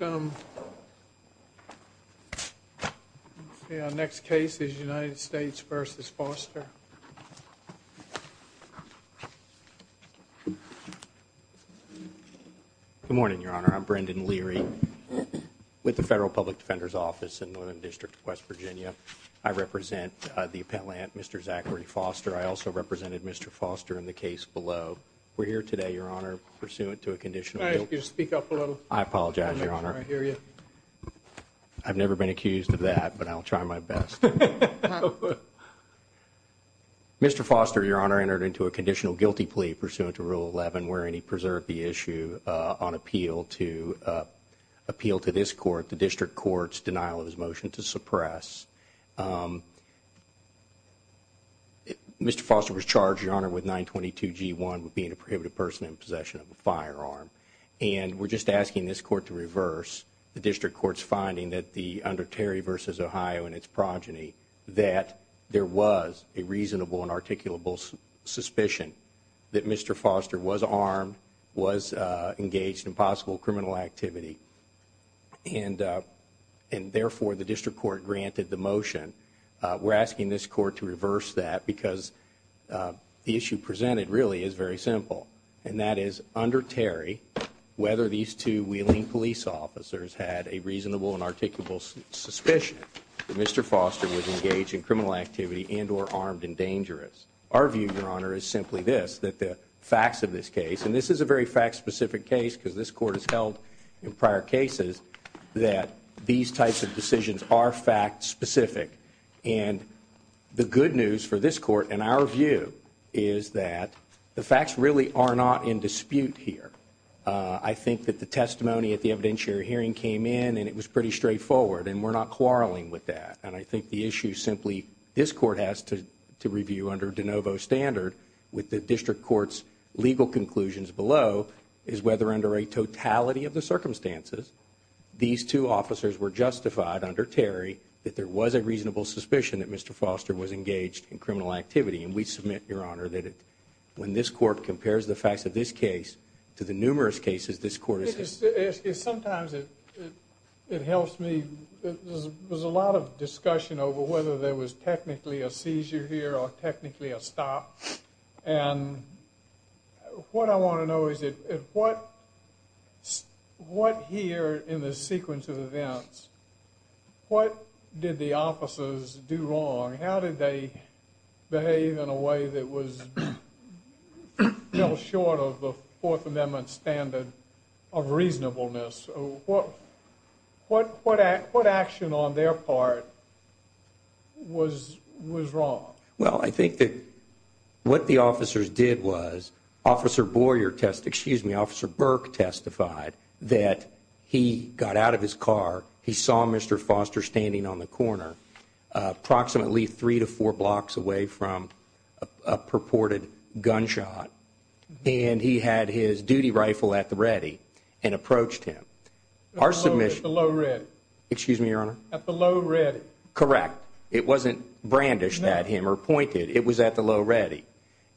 Good morning, Your Honor. I'm Brendan Leary with the Federal Public Defender's Office in Northern District of West Virginia. I represent the appellant, Mr. Zachary Foster. I also represented Mr. Foster in the case below. We're here today, Your Honor, pursuant to a conditional guilty plea pursuant to Rule 11, wherein he preserved the issue on appeal to this Court, the District Court's denial of his motion to suppress. Mr. Foster was charged, Your Honor, with 922 G1 with being a prohibited person in possession of a firearm. And we're just asking this Court to reverse the District Court's finding that under Terry v. Ohio and its progeny that there was a reasonable and articulable suspicion that Mr. Foster was armed, was engaged in possible criminal activity. And therefore, the District Court granted the motion. We're asking this Court to reverse that because the issue presented really is very simple. And that is, under Terry, whether these two wheeling police officers had a reasonable and articulable suspicion that Mr. Foster was engaged in criminal activity and or armed and dangerous. Our view, Your Honor, is simply this, that the facts of this case, and this is a very fact-specific case because this Court has held in prior cases that these types of decisions are fact-specific. And the good news for this Court and our view is that the facts really are not in dispute here. I think that the testimony at the evidentiary hearing came in and it was pretty straightforward. And we're not quarreling with that. And I review under de novo standard with the District Court's legal conclusions below is whether under a totality of the circumstances, these two officers were justified under Terry that there was a reasonable suspicion that Mr. Foster was engaged in criminal activity. And we submit, Your Honor, that when this Court compares the facts of this case to the numerous cases this Court has seen. Sometimes it helps me. There's a lot of discussion over whether there was technically a seizure here or technically a stop. And what I want to know is what here in the sequence of events, what did the officers do wrong? How did they behave in a way that was well short of the Fourth Amendment standard of reasonableness? What action on their part was wrong? Well, I think that what the officers did was Officer Boyer test, excuse me, Officer Burke testified that he got out of his car, he saw Mr. Foster standing on the corner approximately three to four blocks away from a purported gunshot. And he had his duty rifle at the ready and approached him. Our submission... At the low read. Excuse me, Your Honor? At the low ready. It wasn't brandished at him or pointed. It was at the low ready.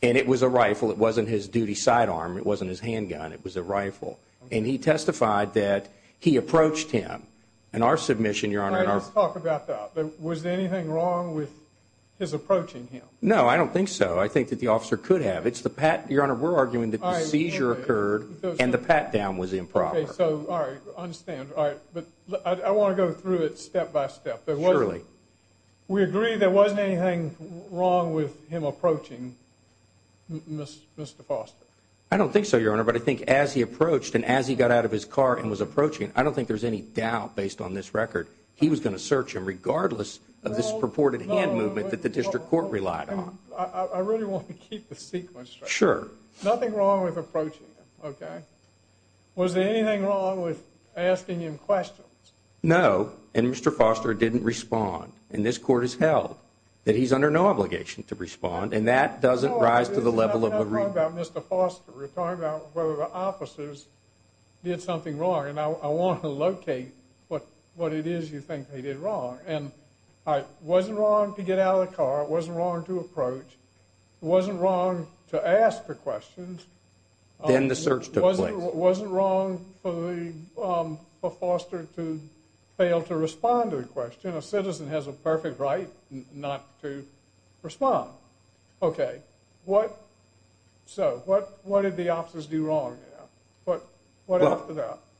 And it was a rifle. It wasn't his duty sidearm. It wasn't his handgun. It was a rifle. And he testified that he approached him. In our submission, Your Honor... All right, let's talk about that. Was there anything wrong with his approaching him? No, I don't think so. I think that the officer could have. It's the pat... Your Honor, we're arguing that the seizure occurred and the pat down was improper. Okay, so all right. I understand. All right. But I want to go through it step by step. Surely. We agree there wasn't anything wrong with him approaching Mr. Foster. I don't think so, Your Honor. But I think as he approached and as he got out of his car and was approaching, I don't think there's any doubt based on this record he was going to search him regardless of this purported hand movement that the district court relied on. I really want to keep the sequence straight. Sure. Nothing wrong with No. And Mr. Foster didn't respond. And this court has held that he's under no obligation to respond. And that doesn't rise to the level of... We're talking about whether the officers did something wrong. And I want to locate what it is you think they did wrong. And it wasn't wrong to get out of the car. It wasn't wrong to approach. It wasn't wrong to ask for questions. Then the search took place. It wasn't wrong for Foster to fail to respond to the question. A citizen has a perfect right not to respond. Okay. So what did the officers do wrong?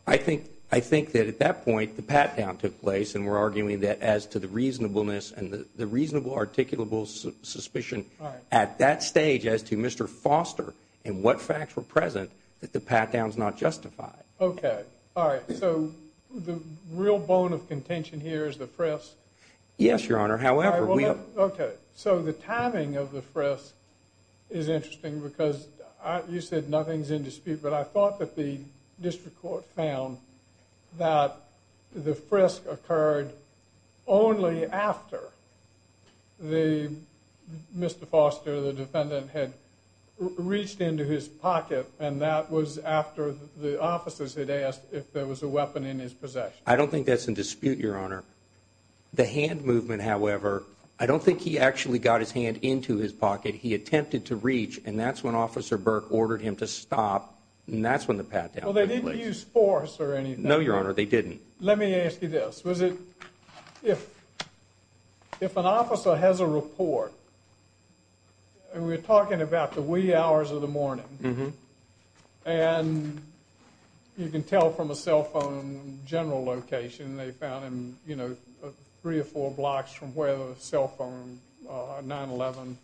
I think that at that point, the pat down took place. And we're arguing that as to the reasonableness and the reasonable articulable suspicion at that stage as to Mr. Foster and what facts were present that the pat down is not justified. Okay. All right. So the real bone of contention here is the frisk. Yes, Your Honor. However, we have... Okay. So the timing of the frisk is interesting because you said nothing's in dispute. But I thought that the district court found that the frisk occurred only after Mr. Foster, the defendant, had reached into his pocket. And that was after the officers had asked if there was a weapon in his possession. I don't think that's in dispute, Your Honor. The hand movement, however, I don't think he actually got his hand into his pocket. He attempted to reach. And that's when Officer Burke ordered him to stop. And that's when the pat down took place. Well, they didn't use force or anything. No, Your Honor. They And we're talking about the wee hours of the morning. And you can tell from a cell phone general location they found him, you know, three or four blocks from where the cell phone 9-11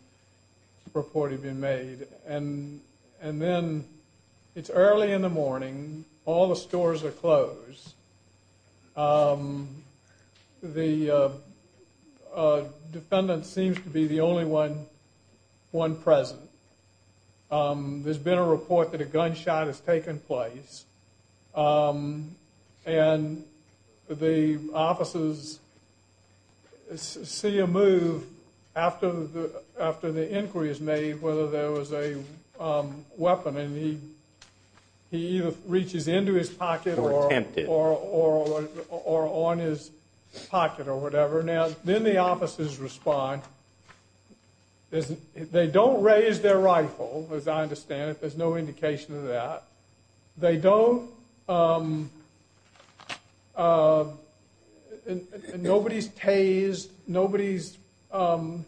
report had been made. And then it's early in the morning. All the stores are closed. The defendant seems to be the only one present. There's been a report that a gunshot has taken place. And the officers see a move after the inquiry is made whether there was a weapon. And he either reaches into his pocket or on his pocket or whatever. Now, then the officers respond. They don't raise their rifle, as I understand it. There's no indication of that. They don't. Nobody's tased. Nobody's, you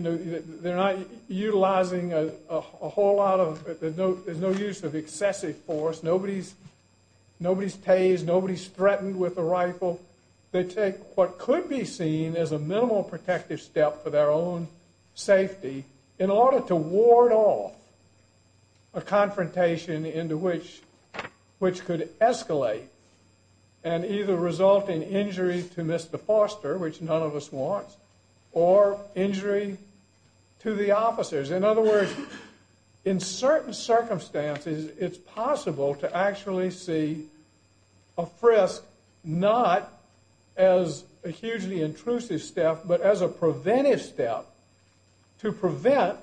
know, they're not utilizing a whole lot of, there's no use of excessive force. Nobody's tased. Nobody's threatened with a rifle. They take what could be seen as a minimal protective step for their own a confrontation into which could escalate and either result in injury to Mr. Foster, which none of us wants, or injury to the officers. In other words, in certain circumstances, it's possible to actually see a frisk not as a hugely intrusive step, but as a preventive step to prevent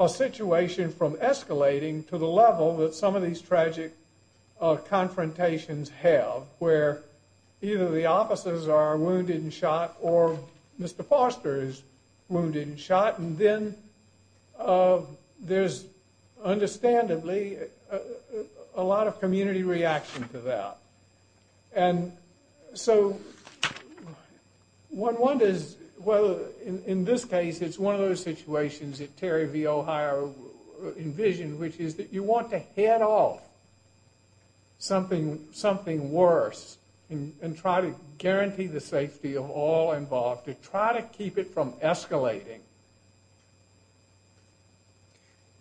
a situation from escalating to the level that some of these tragic confrontations have where either the officers are wounded and shot or Mr. Foster is wounded and shot. And then there's understandably a lot of community reaction to that. And so one wonders whether in this case, it's one of those situations that Terry V. O'Hire envisioned, which is that you want to head off something worse and try to guarantee the safety of all involved to try to keep it from escalating.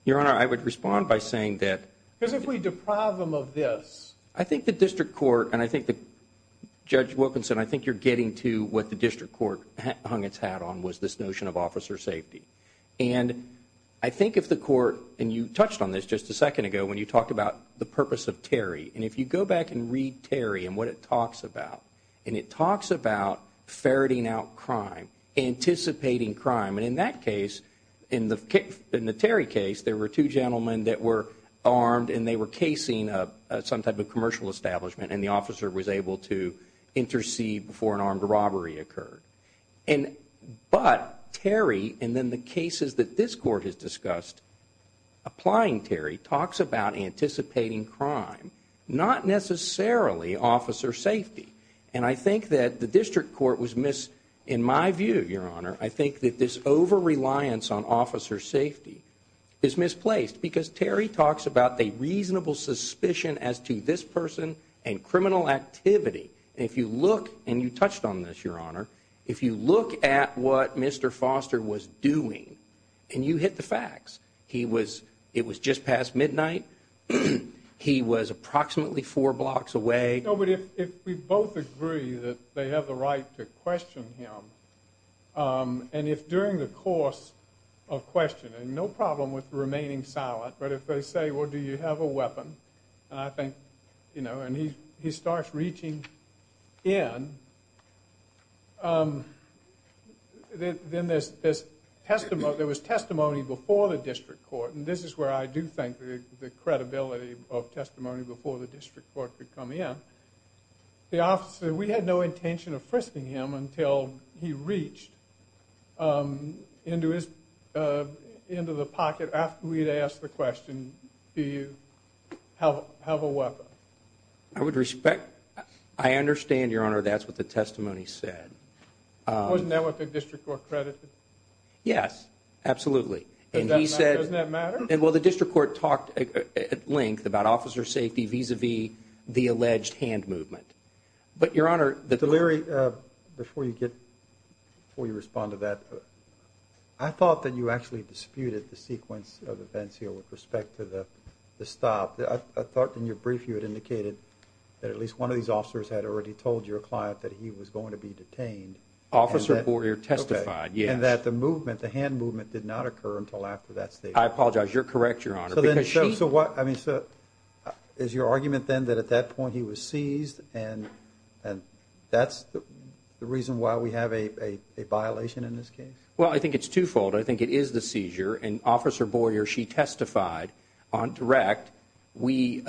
Your Honor, I would respond by saying that. Because if we deprive them of this. I think the district court, and I think that Judge Wilkinson, I think one of the things that was very important was this notion of officer safety. And I think if the court, and you touched on this just a second ago when you talked about the purpose of Terry. And if you go back and read Terry and what it talks about. And it talks about ferreting out crime, anticipating crime. And in that case, in the Terry case, there were two gentlemen that were armed and they were casing some type of commercial establishment and the officer was able to intercede before an armed robbery occurred. But Terry, and then the cases that this court has discussed, applying Terry, talks about anticipating crime. Not necessarily officer safety. And I think that the district court was missed. In my view, Your Honor, I think that this over-reliance on officer safety is misplaced. Because Terry talks about the reasonable suspicion as to this person and criminal activity. And if you look, and you touched on this, Your Honor, if you look at what Mr. Foster was doing, and you hit the facts. He was, it was just past midnight. He was approximately four blocks away. No, but if we both agree that they have the right to question him, and if during the course of questioning, no problem with remaining silent, but if they say, well, do you have a weapon? And I think, you know, and he starts reaching in. Then there's testimony, there was testimony before the district court, and this is where I do think the credibility of testimony before the district court could come in. The officer, we had no intention of frisking him until he reached into his, into the pocket after we had asked the question, do you have a weapon? I would respect, I understand, Your Honor, that's what the testimony said. Wasn't that what the district court credited? Yes, absolutely. Doesn't that matter? Well the district court talked at length about officer safety vis-a-vis the alleged hand movement. But, Your Honor, the... Delury, before you get, before you respond to that, I thought that you actually disputed the sequence of events here with respect to the stop. I thought in your brief you had indicated that at least one of these officers had already told your client that he was going to be detained. Officer Boyer testified, yes. And that the movement, the hand movement, did not occur until after that statement. I apologize, you're correct, Your Honor, because she... So what, I mean, so is your argument then that at that point he was seized and that's the reason why we have a violation in this case? Well I think it's twofold. I think it is the seizure. And Officer Boyer, she testified on direct. We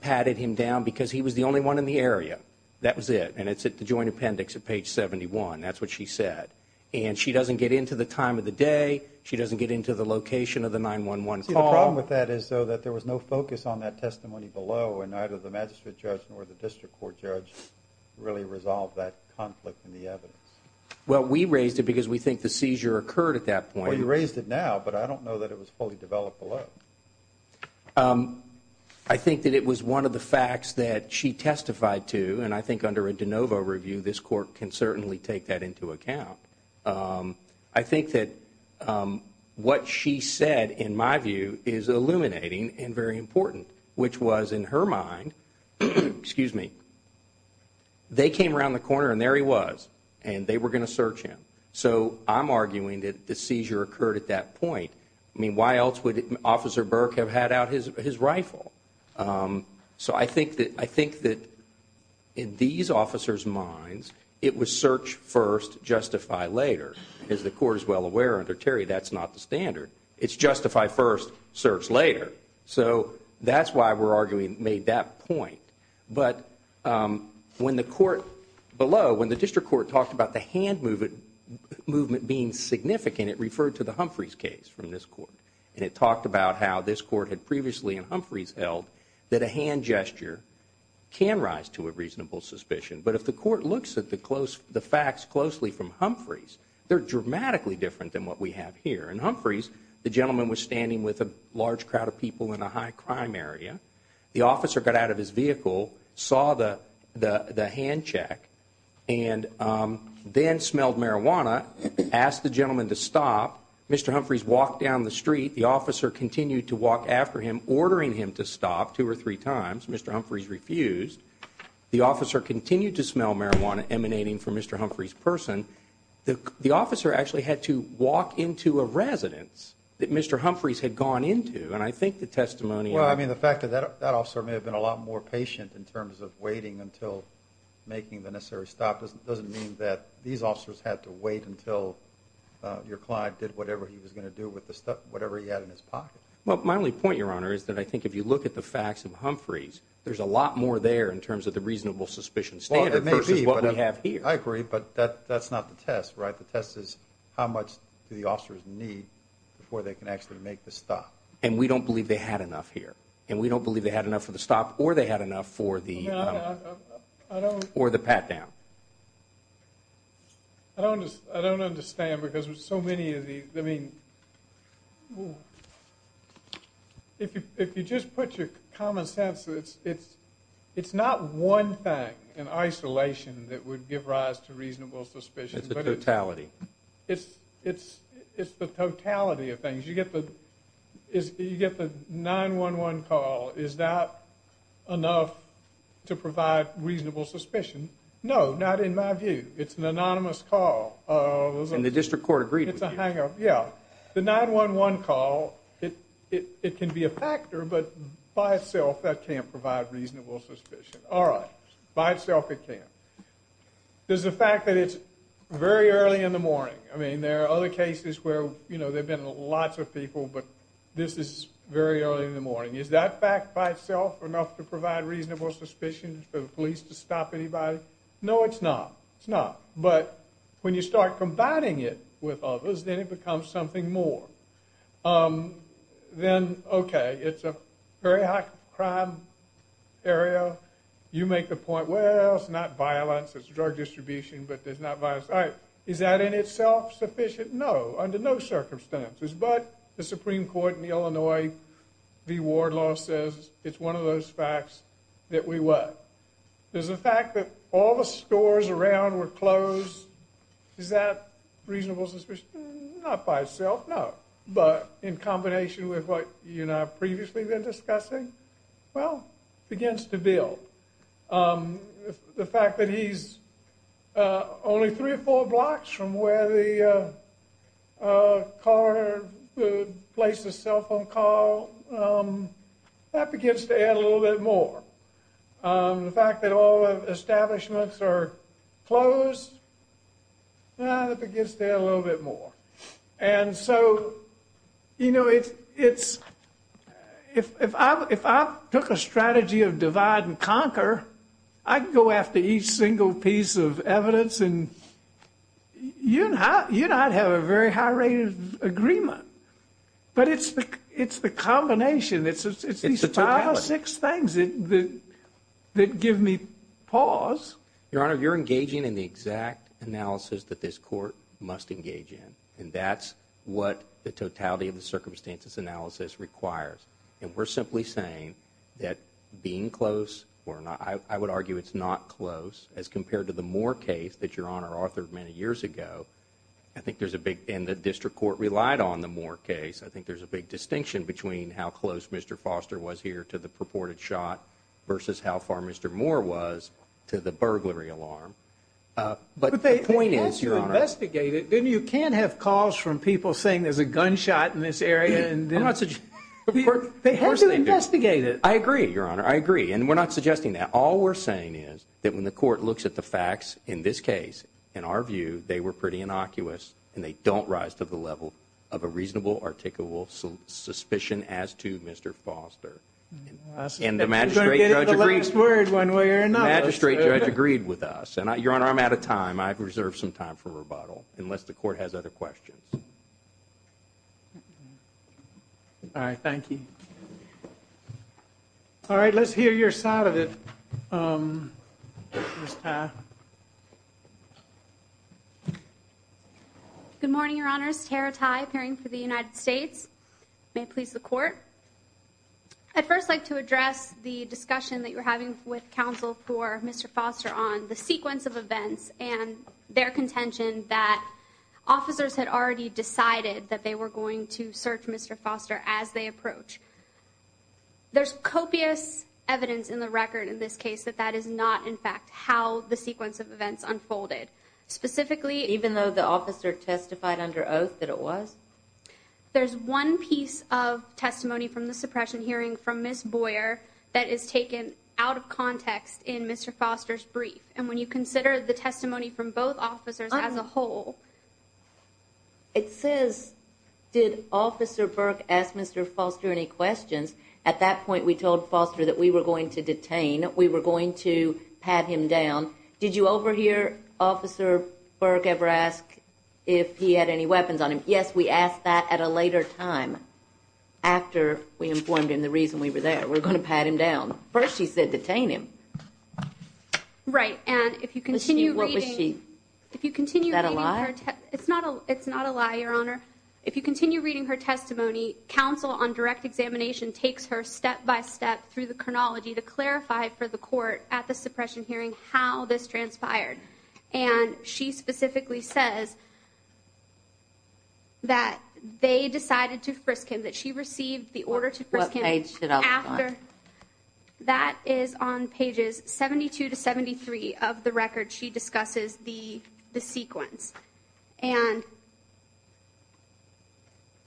patted him down because he was the only one in the area. That was it. And it's at the joint appendix at page 71. That's what she said. And she doesn't get into the time of the day. She doesn't get into the location of the 911 call. I see the problem with that is though that there was no focus on that testimony below and neither the magistrate judge nor the district court judge really resolved that conflict in the evidence. Well we raised it because we think the seizure occurred at that point. Well you raised it now, but I don't know that it was fully developed below. I think that it was one of the facts that she testified to, and I think under a de novo review this court can certainly take that into account. I think that what she said, in my view, is illuminating and very important, which was in her mind, excuse me, they came around the corner and there he was, and they were going to search him. So I'm arguing that the seizure occurred at that point. I mean why else would Officer Burke have had out his rifle? So I think that in these officers' minds it was search first, justify later. As the court is well aware under Terry, that's not the standard. It's justify first, search later. So that's why we're arguing it made that point, but when the court below, when the district court talked about the hand movement being significant, it referred to the Humphreys case from this court, and it talked about how this court had previously in Humphreys held that a hand gesture can rise to a reasonable suspicion, but if the court looks at the facts closely from Humphreys, they're dramatically different than what we have here. In Humphreys, the gentleman was standing with a large crowd of people in a high crime area. The officer got out of his vehicle, saw the hand check, and then smelled marijuana, asked the gentleman to stop. Mr. Humphreys walked down the street. The officer continued to walk after him, ordering him to stop two or three times. Mr. Humphreys refused. The officer continued to smell marijuana emanating from Mr. Humphreys' person. The officer actually had to walk into a residence that Mr. Humphreys had gone into, and I think the testimony... Well, I mean, the fact that that officer may have been a lot more patient in terms of waiting until making the necessary stop doesn't mean that these officers had to wait until your client did whatever he was going to do with the stuff, whatever he had in his pocket. Well, my only point, Your Honor, is that I think if you look at the facts of Humphreys, there's a lot more there in terms of the reasonable suspicion standard versus what we have here. I agree, but that's not the test, right? The test is how much do the officers need before they can actually make the stop. And we don't believe they had enough here. And we don't believe they had enough for the stop or they had enough for the pat down. I don't understand because there's so many of these. I mean, if you just put your common sense, it's not one thing in isolation that would give rise to reasonable suspicion. It's the totality. It's the totality of things. You get the 911 call. Is that enough to provide reasonable suspicion? No, not in my view. It's an anonymous call. And the district court agreed with you. Yeah, the 911 call, it can be a factor, but by itself, that can't provide reasonable suspicion. All right. By itself, it can't. There's the fact that it's very early in the morning. I mean, there are other cases where, you know, there have been lots of people, but this is very early in the morning. Is that fact by itself enough to provide reasonable suspicion for the police to stop anybody? No, it's not. It's not. But when you start combining it with others, then it becomes something more. Then, okay, it's a very high crime area. You make the point, well, it's not violence, it's drug distribution, but it's not violence. Is that in itself sufficient? No, under no circumstances. But the Supreme Court in Illinois v. Wardlaw says it's one of those facts that we what? There's the fact that all the stores around were closed. Is that reasonable suspicion? Not by itself, no. But in combination with what you and I have previously been discussing? Well, it begins to build. The fact that he's only three or four blocks from where the car placed the cell phone call, that begins to add a little bit more. The fact that all establishments are closed, that begins to add a little bit more. And so, you know, if I took a strategy of divide and conquer, I could go after each single piece of evidence and you and I would have a very high rate of agreement. But it's the combination, it's these five or six things that give me pause. Your Honor, you're engaging in the exact analysis that this court must engage in, and that's what the totality of the circumstances analysis requires. And we're simply saying that being close, or I would argue it's not close as compared to the Moore case that Your Honor authored many years ago, I think there's a big, and the district court relied on the Moore case. I think there's a big distinction between how close Mr. Foster was here to the purported shot versus how far Mr. Moore was to the burglary alarm. But the point is, Your Honor. But they had to investigate it, didn't you? Can't have calls from people saying there's a gunshot in this area. I'm not suggesting, of course they do. They had to investigate it. I agree, Your Honor, I agree. And we're not suggesting that. All we're saying is that when the court looks at the facts in this case, in our view, they were pretty innocuous, and they don't rise to the level of a reasonable, articulable suspicion as to Mr. Foster. And the magistrate judge agreed with us. And Your Honor, I'm out of time. I've reserved some time for rebuttal, unless the court has other questions. All right, thank you. All right, let's hear your side of it, Mr. Taft. Good morning, Your Honors. Tara Tai, appearing for the United States. May it please the court. I'd first like to address the discussion that you're having with counsel for Mr. Foster on the sequence of events and their contention that officers had already decided that they were going to search Mr. Foster as they approach. There's copious evidence in the record in this case that that is not, in fact, how the sequence of events unfolded. Even though the officer testified under oath that it was? There's one piece of testimony from the suppression hearing from Ms. Boyer that is taken out of context in Mr. Foster's brief. And when you consider the testimony from both officers as a whole. It says, did Officer Burke ask Mr. Foster any questions? At that point, we told Foster that we were going to detain. We were going to pat him down. Did you overhear Officer Burke ever ask if he had any weapons on him? Yes, we asked that at a later time. After we informed him the reason we were there, we're going to pat him down. First, she said, detain him. Right. And if you continue. What was she? If you continue. Is that a lie? It's not a it's not a lie, Your Honor. If you continue reading her testimony, counsel on direct examination takes her step by step through the chronology to clarify for the court at the suppression hearing how this transpired. And she specifically says. That they decided to frisk him that she received the order to. That is on pages 72 to 73 of the record. She discusses the the sequence and.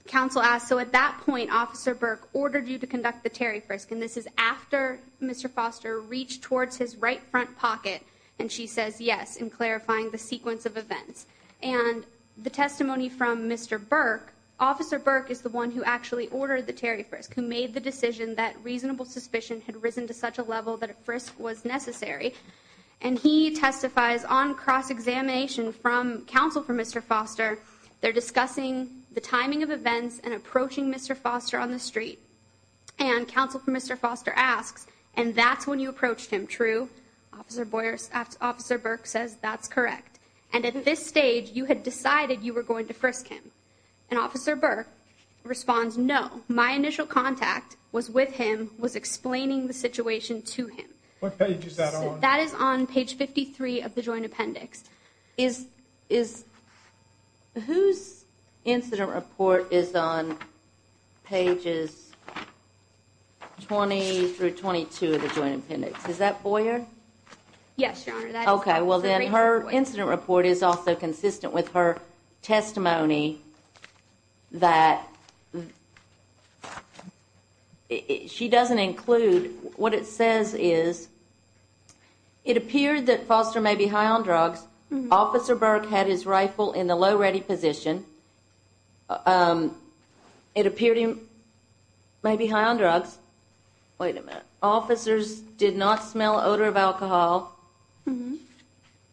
Counsel asked, so at that point, Officer Burke ordered you to conduct the Terry Frisk. And this is after Mr. Foster reached towards his right front pocket. And she says yes in clarifying the sequence of events and the testimony from Mr. Burke. Officer Burke is the one who actually ordered the Terry Frisk, who made the decision that reasonable suspicion had risen to such a level that a frisk was necessary. And he testifies on cross-examination from counsel for Mr. Foster. They're discussing the timing of events and approaching Mr. Foster on the street. And counsel for Mr. Foster asks, and that's when you approached him. True. Officer Boyers, Officer Burke says that's correct. And at this stage, you had decided you were going to frisk him. And Officer Burke responds. No, my initial contact was with him was explaining the situation to him. What page is that on? That is on page 53 of the joint appendix is is. Whose incident report is on pages 20 through 22 of the joint appendix? Is that Boyer? Yes, your honor. OK, well, then her incident report is also consistent with her testimony that. She doesn't include what it says is. It appeared that Foster may be high on drugs. Officer Burke had his rifle in the low ready position. It appeared he may be high on drugs. Wait a minute. Officers did not smell odor of alcohol.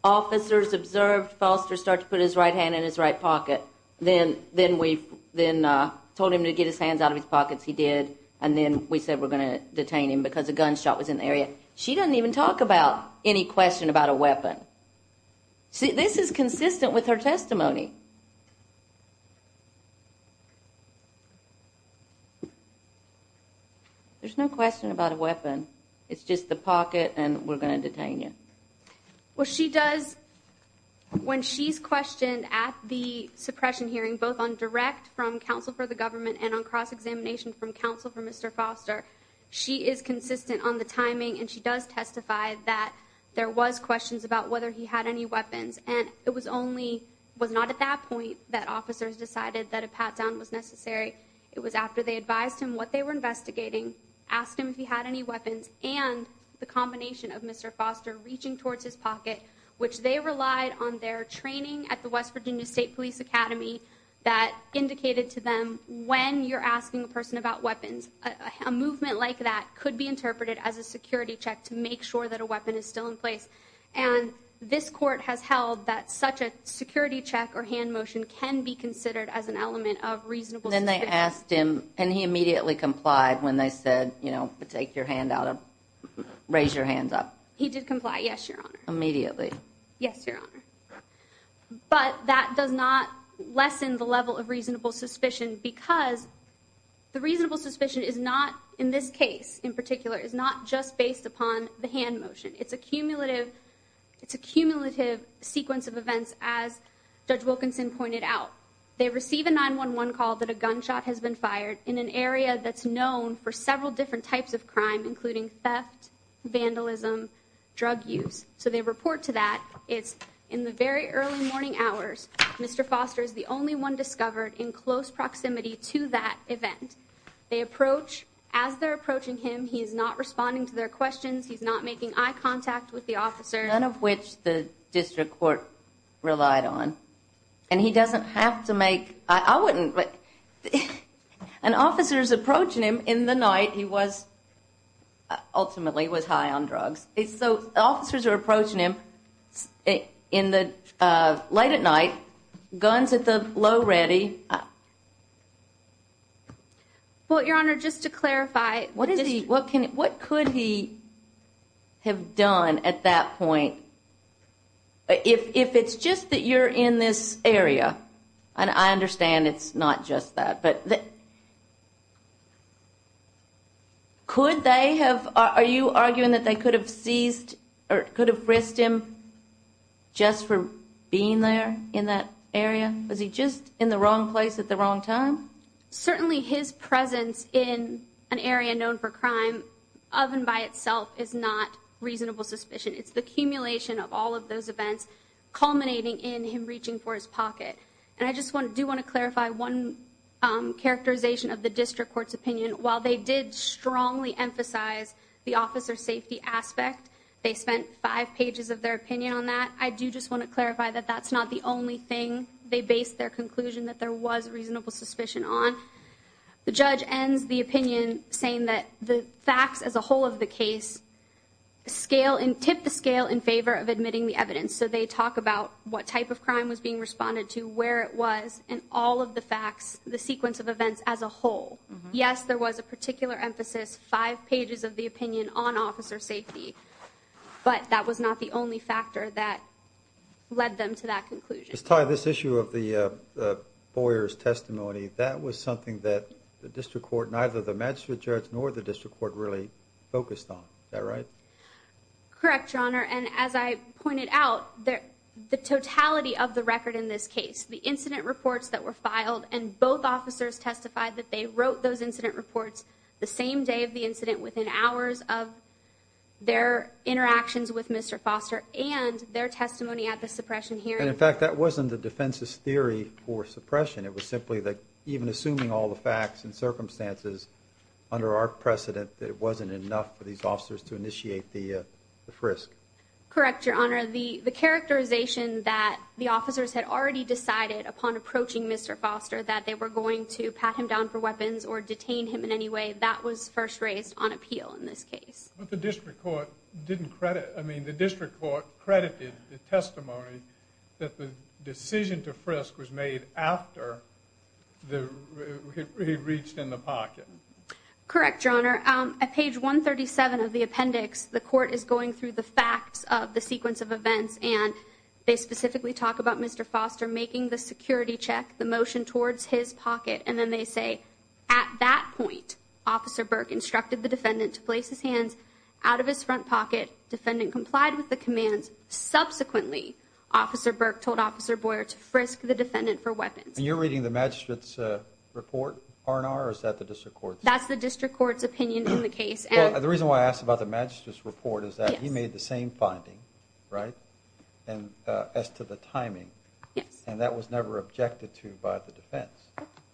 Officers observed Foster start to put his right hand in his right pocket. Then then we then told him to get his hands out of his pockets. He did. And then we said we're going to detain him because a gunshot was in the area. She doesn't even talk about any question about a weapon. See, this is consistent with her testimony. There's no question about a weapon. It's just the pocket and we're going to detain you. Well, she does when she's questioned at the suppression hearing, both on direct from counsel for the government and on cross examination from counsel for Mr. Foster. She is consistent on the timing, and she does testify that there was questions about whether he had any weapons. And it was only was not at that point that officers decided that a pat down was necessary. It was after they advised him what they were investigating, asked him if he had any weapons and the combination of Mr. Foster reaching towards his pocket, which they relied on their training at the West Virginia State Police Academy that indicated to them when you're asking a person about weapons, a movement like that could be interpreted as a security check to make sure that a weapon is still in place. And this court has held that such a security check or hand motion can be considered as an element of reasonable. Then they asked him and he immediately complied when they said, you know, take your hand out of raise your hands up. He did comply. Yes, Your Honor. Immediately. Yes, Your Honor. But that does not lessen the level of reasonable suspicion because the reasonable suspicion is not in this case in particular is not just based upon the hand motion. It's a cumulative. It's a cumulative sequence of events, as Judge Wilkinson pointed out. They receive a 911 call that a gunshot has been fired in an area that's known for several different types of crime, including theft, vandalism, drug use. So they report to that. It's in the very early morning hours. Mr. Foster is the only one discovered in close proximity to that event. They approach as they're approaching him. He is not responding to their questions. He's not making eye contact with the officer, none of which the district court relied on. And he doesn't have to make I wouldn't. But an officer is approaching him in the night. He was ultimately was high on drugs. So officers are approaching him in the late at night guns at the low ready. Well, Your Honor, just to clarify, what is he? What could he have done at that point? If it's just that you're in this area, and I understand it's not just that, but could they have are you arguing that they could have seized or could have risked him just for being there in that area? Was he just in the wrong place at the wrong time? Certainly his presence in an area known for crime of and by itself is not reasonable suspicion. It's the accumulation of all of those events culminating in him reaching for his pocket. And I just want to do want to clarify one characterization of the district court's opinion. While they did strongly emphasize the officer safety aspect, they spent five pages of their opinion on that. I do just want to clarify that that's not the only thing they based their conclusion that there was reasonable suspicion on. The judge ends the opinion, saying that the facts as a whole of the case scale and tip the scale in favor of admitting the evidence. So they talk about what type of crime was being responded to, where it was, and all of the facts, the sequence of events as a whole. Yes, there was a particular emphasis, five pages of the opinion on officer safety, but that was not the only factor that led them to that conclusion. Ty, this issue of the Boyer's testimony, that was something that the district court, neither the magistrate judge nor the district court really focused on. Is that right? Correct, your honor. And as I pointed out, the totality of the record in this case, the incident reports that were filed and both officers testified that they wrote those incident reports the same day of the incident within hours of their interactions with Mr. Foster and their testimony at the suppression hearing. In fact, that wasn't the defense's theory for suppression. It was simply that even assuming all the facts and circumstances under our precedent, that it wasn't enough for these officers to initiate the frisk. Correct, your honor. The characterization that the officers had already decided upon approaching Mr. Foster that they were going to pat him down for weapons or detain him in any way, that was first raised on appeal in this case. But the district court didn't credit, I mean, the district court credited the testimony that the decision to frisk was made after he reached in the pocket. Correct, your honor. At page 137 of the appendix, the court is going through the facts of the sequence of events and they specifically talk about Mr. Foster making the security check, the motion towards his pocket. And then they say, at that point, Officer Burke instructed the defendant to place his hands out of his front pocket. Defendant complied with the commands. Subsequently, Officer Burke told Officer Boyer to frisk the defendant for weapons. You're reading the magistrate's report, R&R, or is that the district court? That's the district court's opinion in the case. The reason why I asked about the magistrate's report is that he made the same finding, right? And as to the timing. Yes. And that was never objected to by the defense.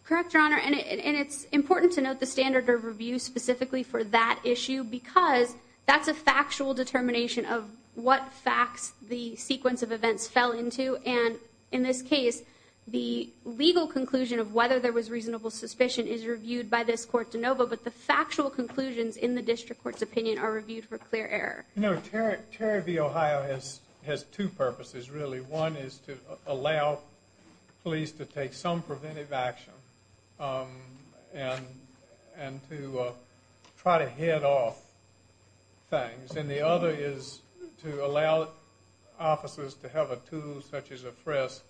Correct, your honor. And it's important to note the standard of review specifically for that issue because that's a factual determination of what facts the sequence of events fell into. And in this case, the legal conclusion of whether there was reasonable suspicion is reviewed by this court de novo. But the factual conclusions in the district court's opinion are reviewed for clear error. No, Terry v. Ohio has two purposes, really. One is to allow police to take some preventive action and to try to head off things. And the other is to allow officers to have a tool such as a frisk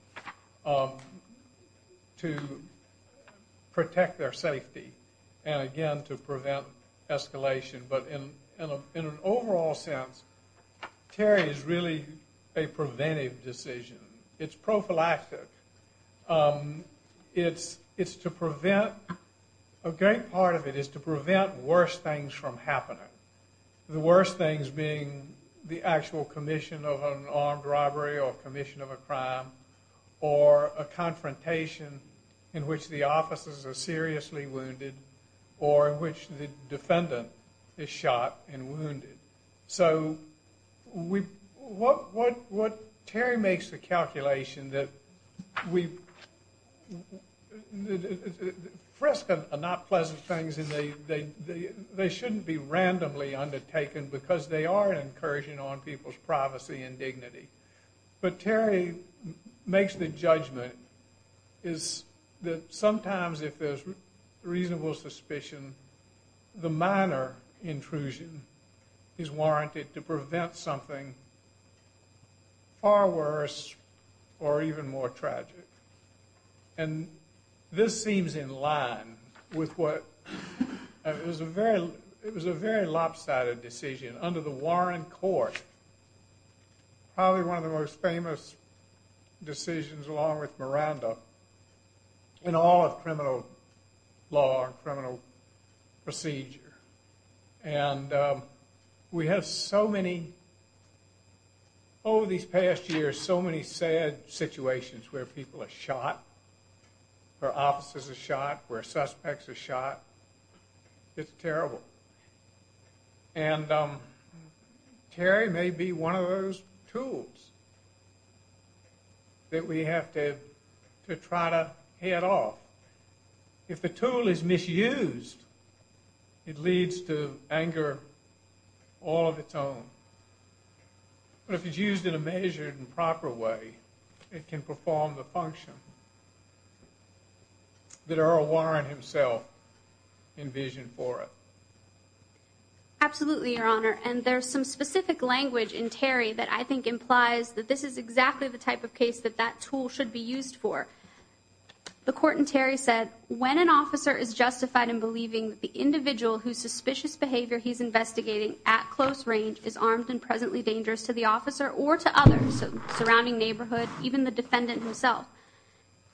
to protect their safety and, again, to prevent escalation. But in an overall sense, Terry is really a preventive decision. It's prophylactic. A great part of it is to prevent worse things from happening, the worst things being the actual commission of an armed robbery or commission of a crime or a confrontation in which the victim is shot and wounded. So what Terry makes the calculation that frisks are not pleasant things and they shouldn't be randomly undertaken because they are an incursion on people's privacy and dignity. But Terry makes the judgment that sometimes if there's reasonable suspicion, the minor intrusion is warranted to prevent something far worse or even more tragic. And this seems in line with what was a very lopsided decision under the Warren court, probably one of the most famous decisions along with Miranda in all of criminal law, criminal procedure. And we have so many, over these past years, so many sad situations where people are shot, where officers are shot, where suspects are shot. It's terrible. And Terry may be one of those tools that we have to try to head off. If the tool is misused, it leads to anger all of its own. But if it's used in a measured and proper way, it can perform the function that Earl Warren himself envisioned for it. Absolutely, Your Honor. And there's some specific language in Terry that I think implies that this is exactly the type of case that that tool should be used for. The court in Terry said, when an officer is justified in believing the individual whose suspicious behavior he's investigating at close range is armed and presently dangerous to the officer or to others surrounding neighborhood, even the defendant himself,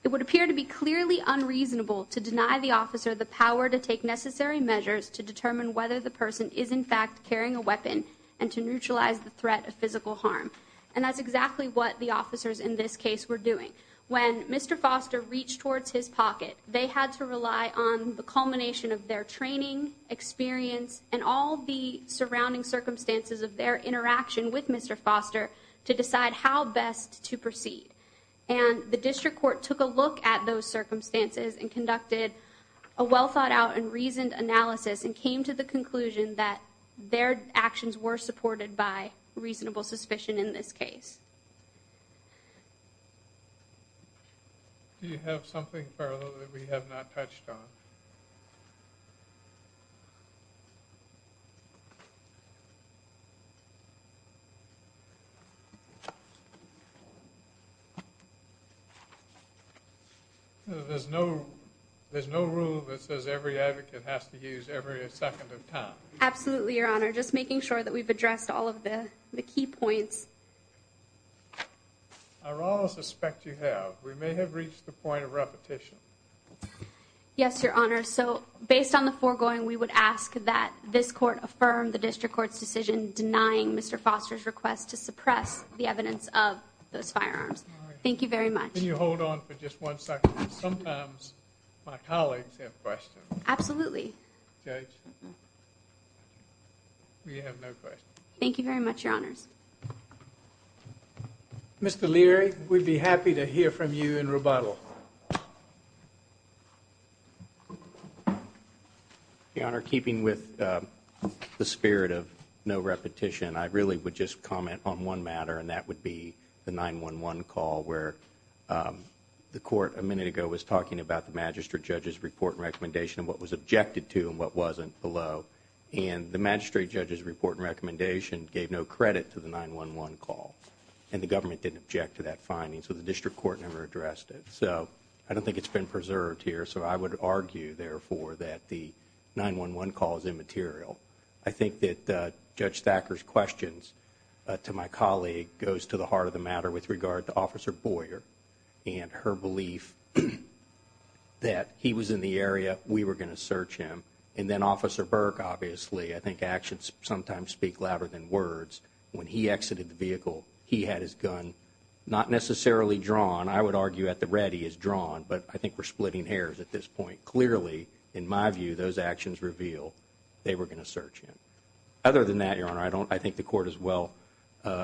it would appear to be clearly unreasonable to deny the officer the power to take necessary measures to determine whether the person is in fact carrying a weapon and to neutralize the threat of physical harm. And that's exactly what the officers in this case were doing. When Mr. Foster reached towards his pocket, they had to rely on the culmination of their training, experience, and all the surrounding circumstances of their interaction with Mr. Foster to decide how best to proceed. And the district court took a look at those circumstances and conducted a well thought out and reasoned analysis and came to the conclusion that their actions were supported by reasonable suspicion in this case. Do you have something further that we have not touched on? There's no, there's no rule that says every advocate has to use every second of time. Absolutely, Your Honor. Just making sure that we've addressed all of the key points. I suspect you have. We may have reached the point of repetition. Yes, Your Honor. So based on the foregoing, we would ask that this court affirm the district court's decision denying Mr. Foster's request to suppress the evidence of those firearms. Thank you very much. Can you hold on for just one second? Sometimes my colleagues have questions. Absolutely. Judge, we have no questions. Thank you very much, Your Honors. Mr. Leary, we'd be happy to hear from you in rebuttal. Your Honor, keeping with the spirit of no repetition, I really would just comment on one matter and that would be the 911 call where the court a minute ago was talking about the magistrate judge's report and recommendation and what was objected to and what wasn't below. The magistrate judge's report and recommendation gave no credit to the 911 call and the government didn't object to that finding, so the district court never addressed it. I don't think it's been preserved here, so I would argue, therefore, that the 911 call is immaterial. I think that Judge Thacker's questions to my colleague goes to the heart of the matter with regard to Officer Boyer and her belief that he was in the area, we were going to search, obviously. I think actions sometimes speak louder than words. When he exited the vehicle, he had his gun, not necessarily drawn. I would argue at the ready as drawn, but I think we're splitting hairs at this point. Clearly, in my view, those actions reveal they were going to search him. Other than that, Your Honor, I think the court is well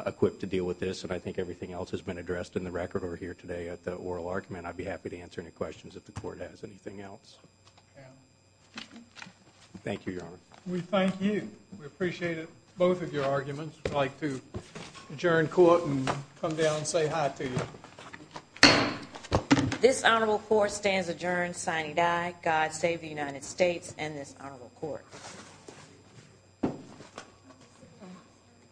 equipped to deal with this and I think everything else has been addressed in the record over here today at the oral argument. I'd be happy to answer any questions if the court has anything else. Thank you, Your Honor. We thank you. We appreciated both of your arguments. We'd like to adjourn court and come down and say hi to you. This honorable court stands adjourned, signing die. God save the United States and this honorable court.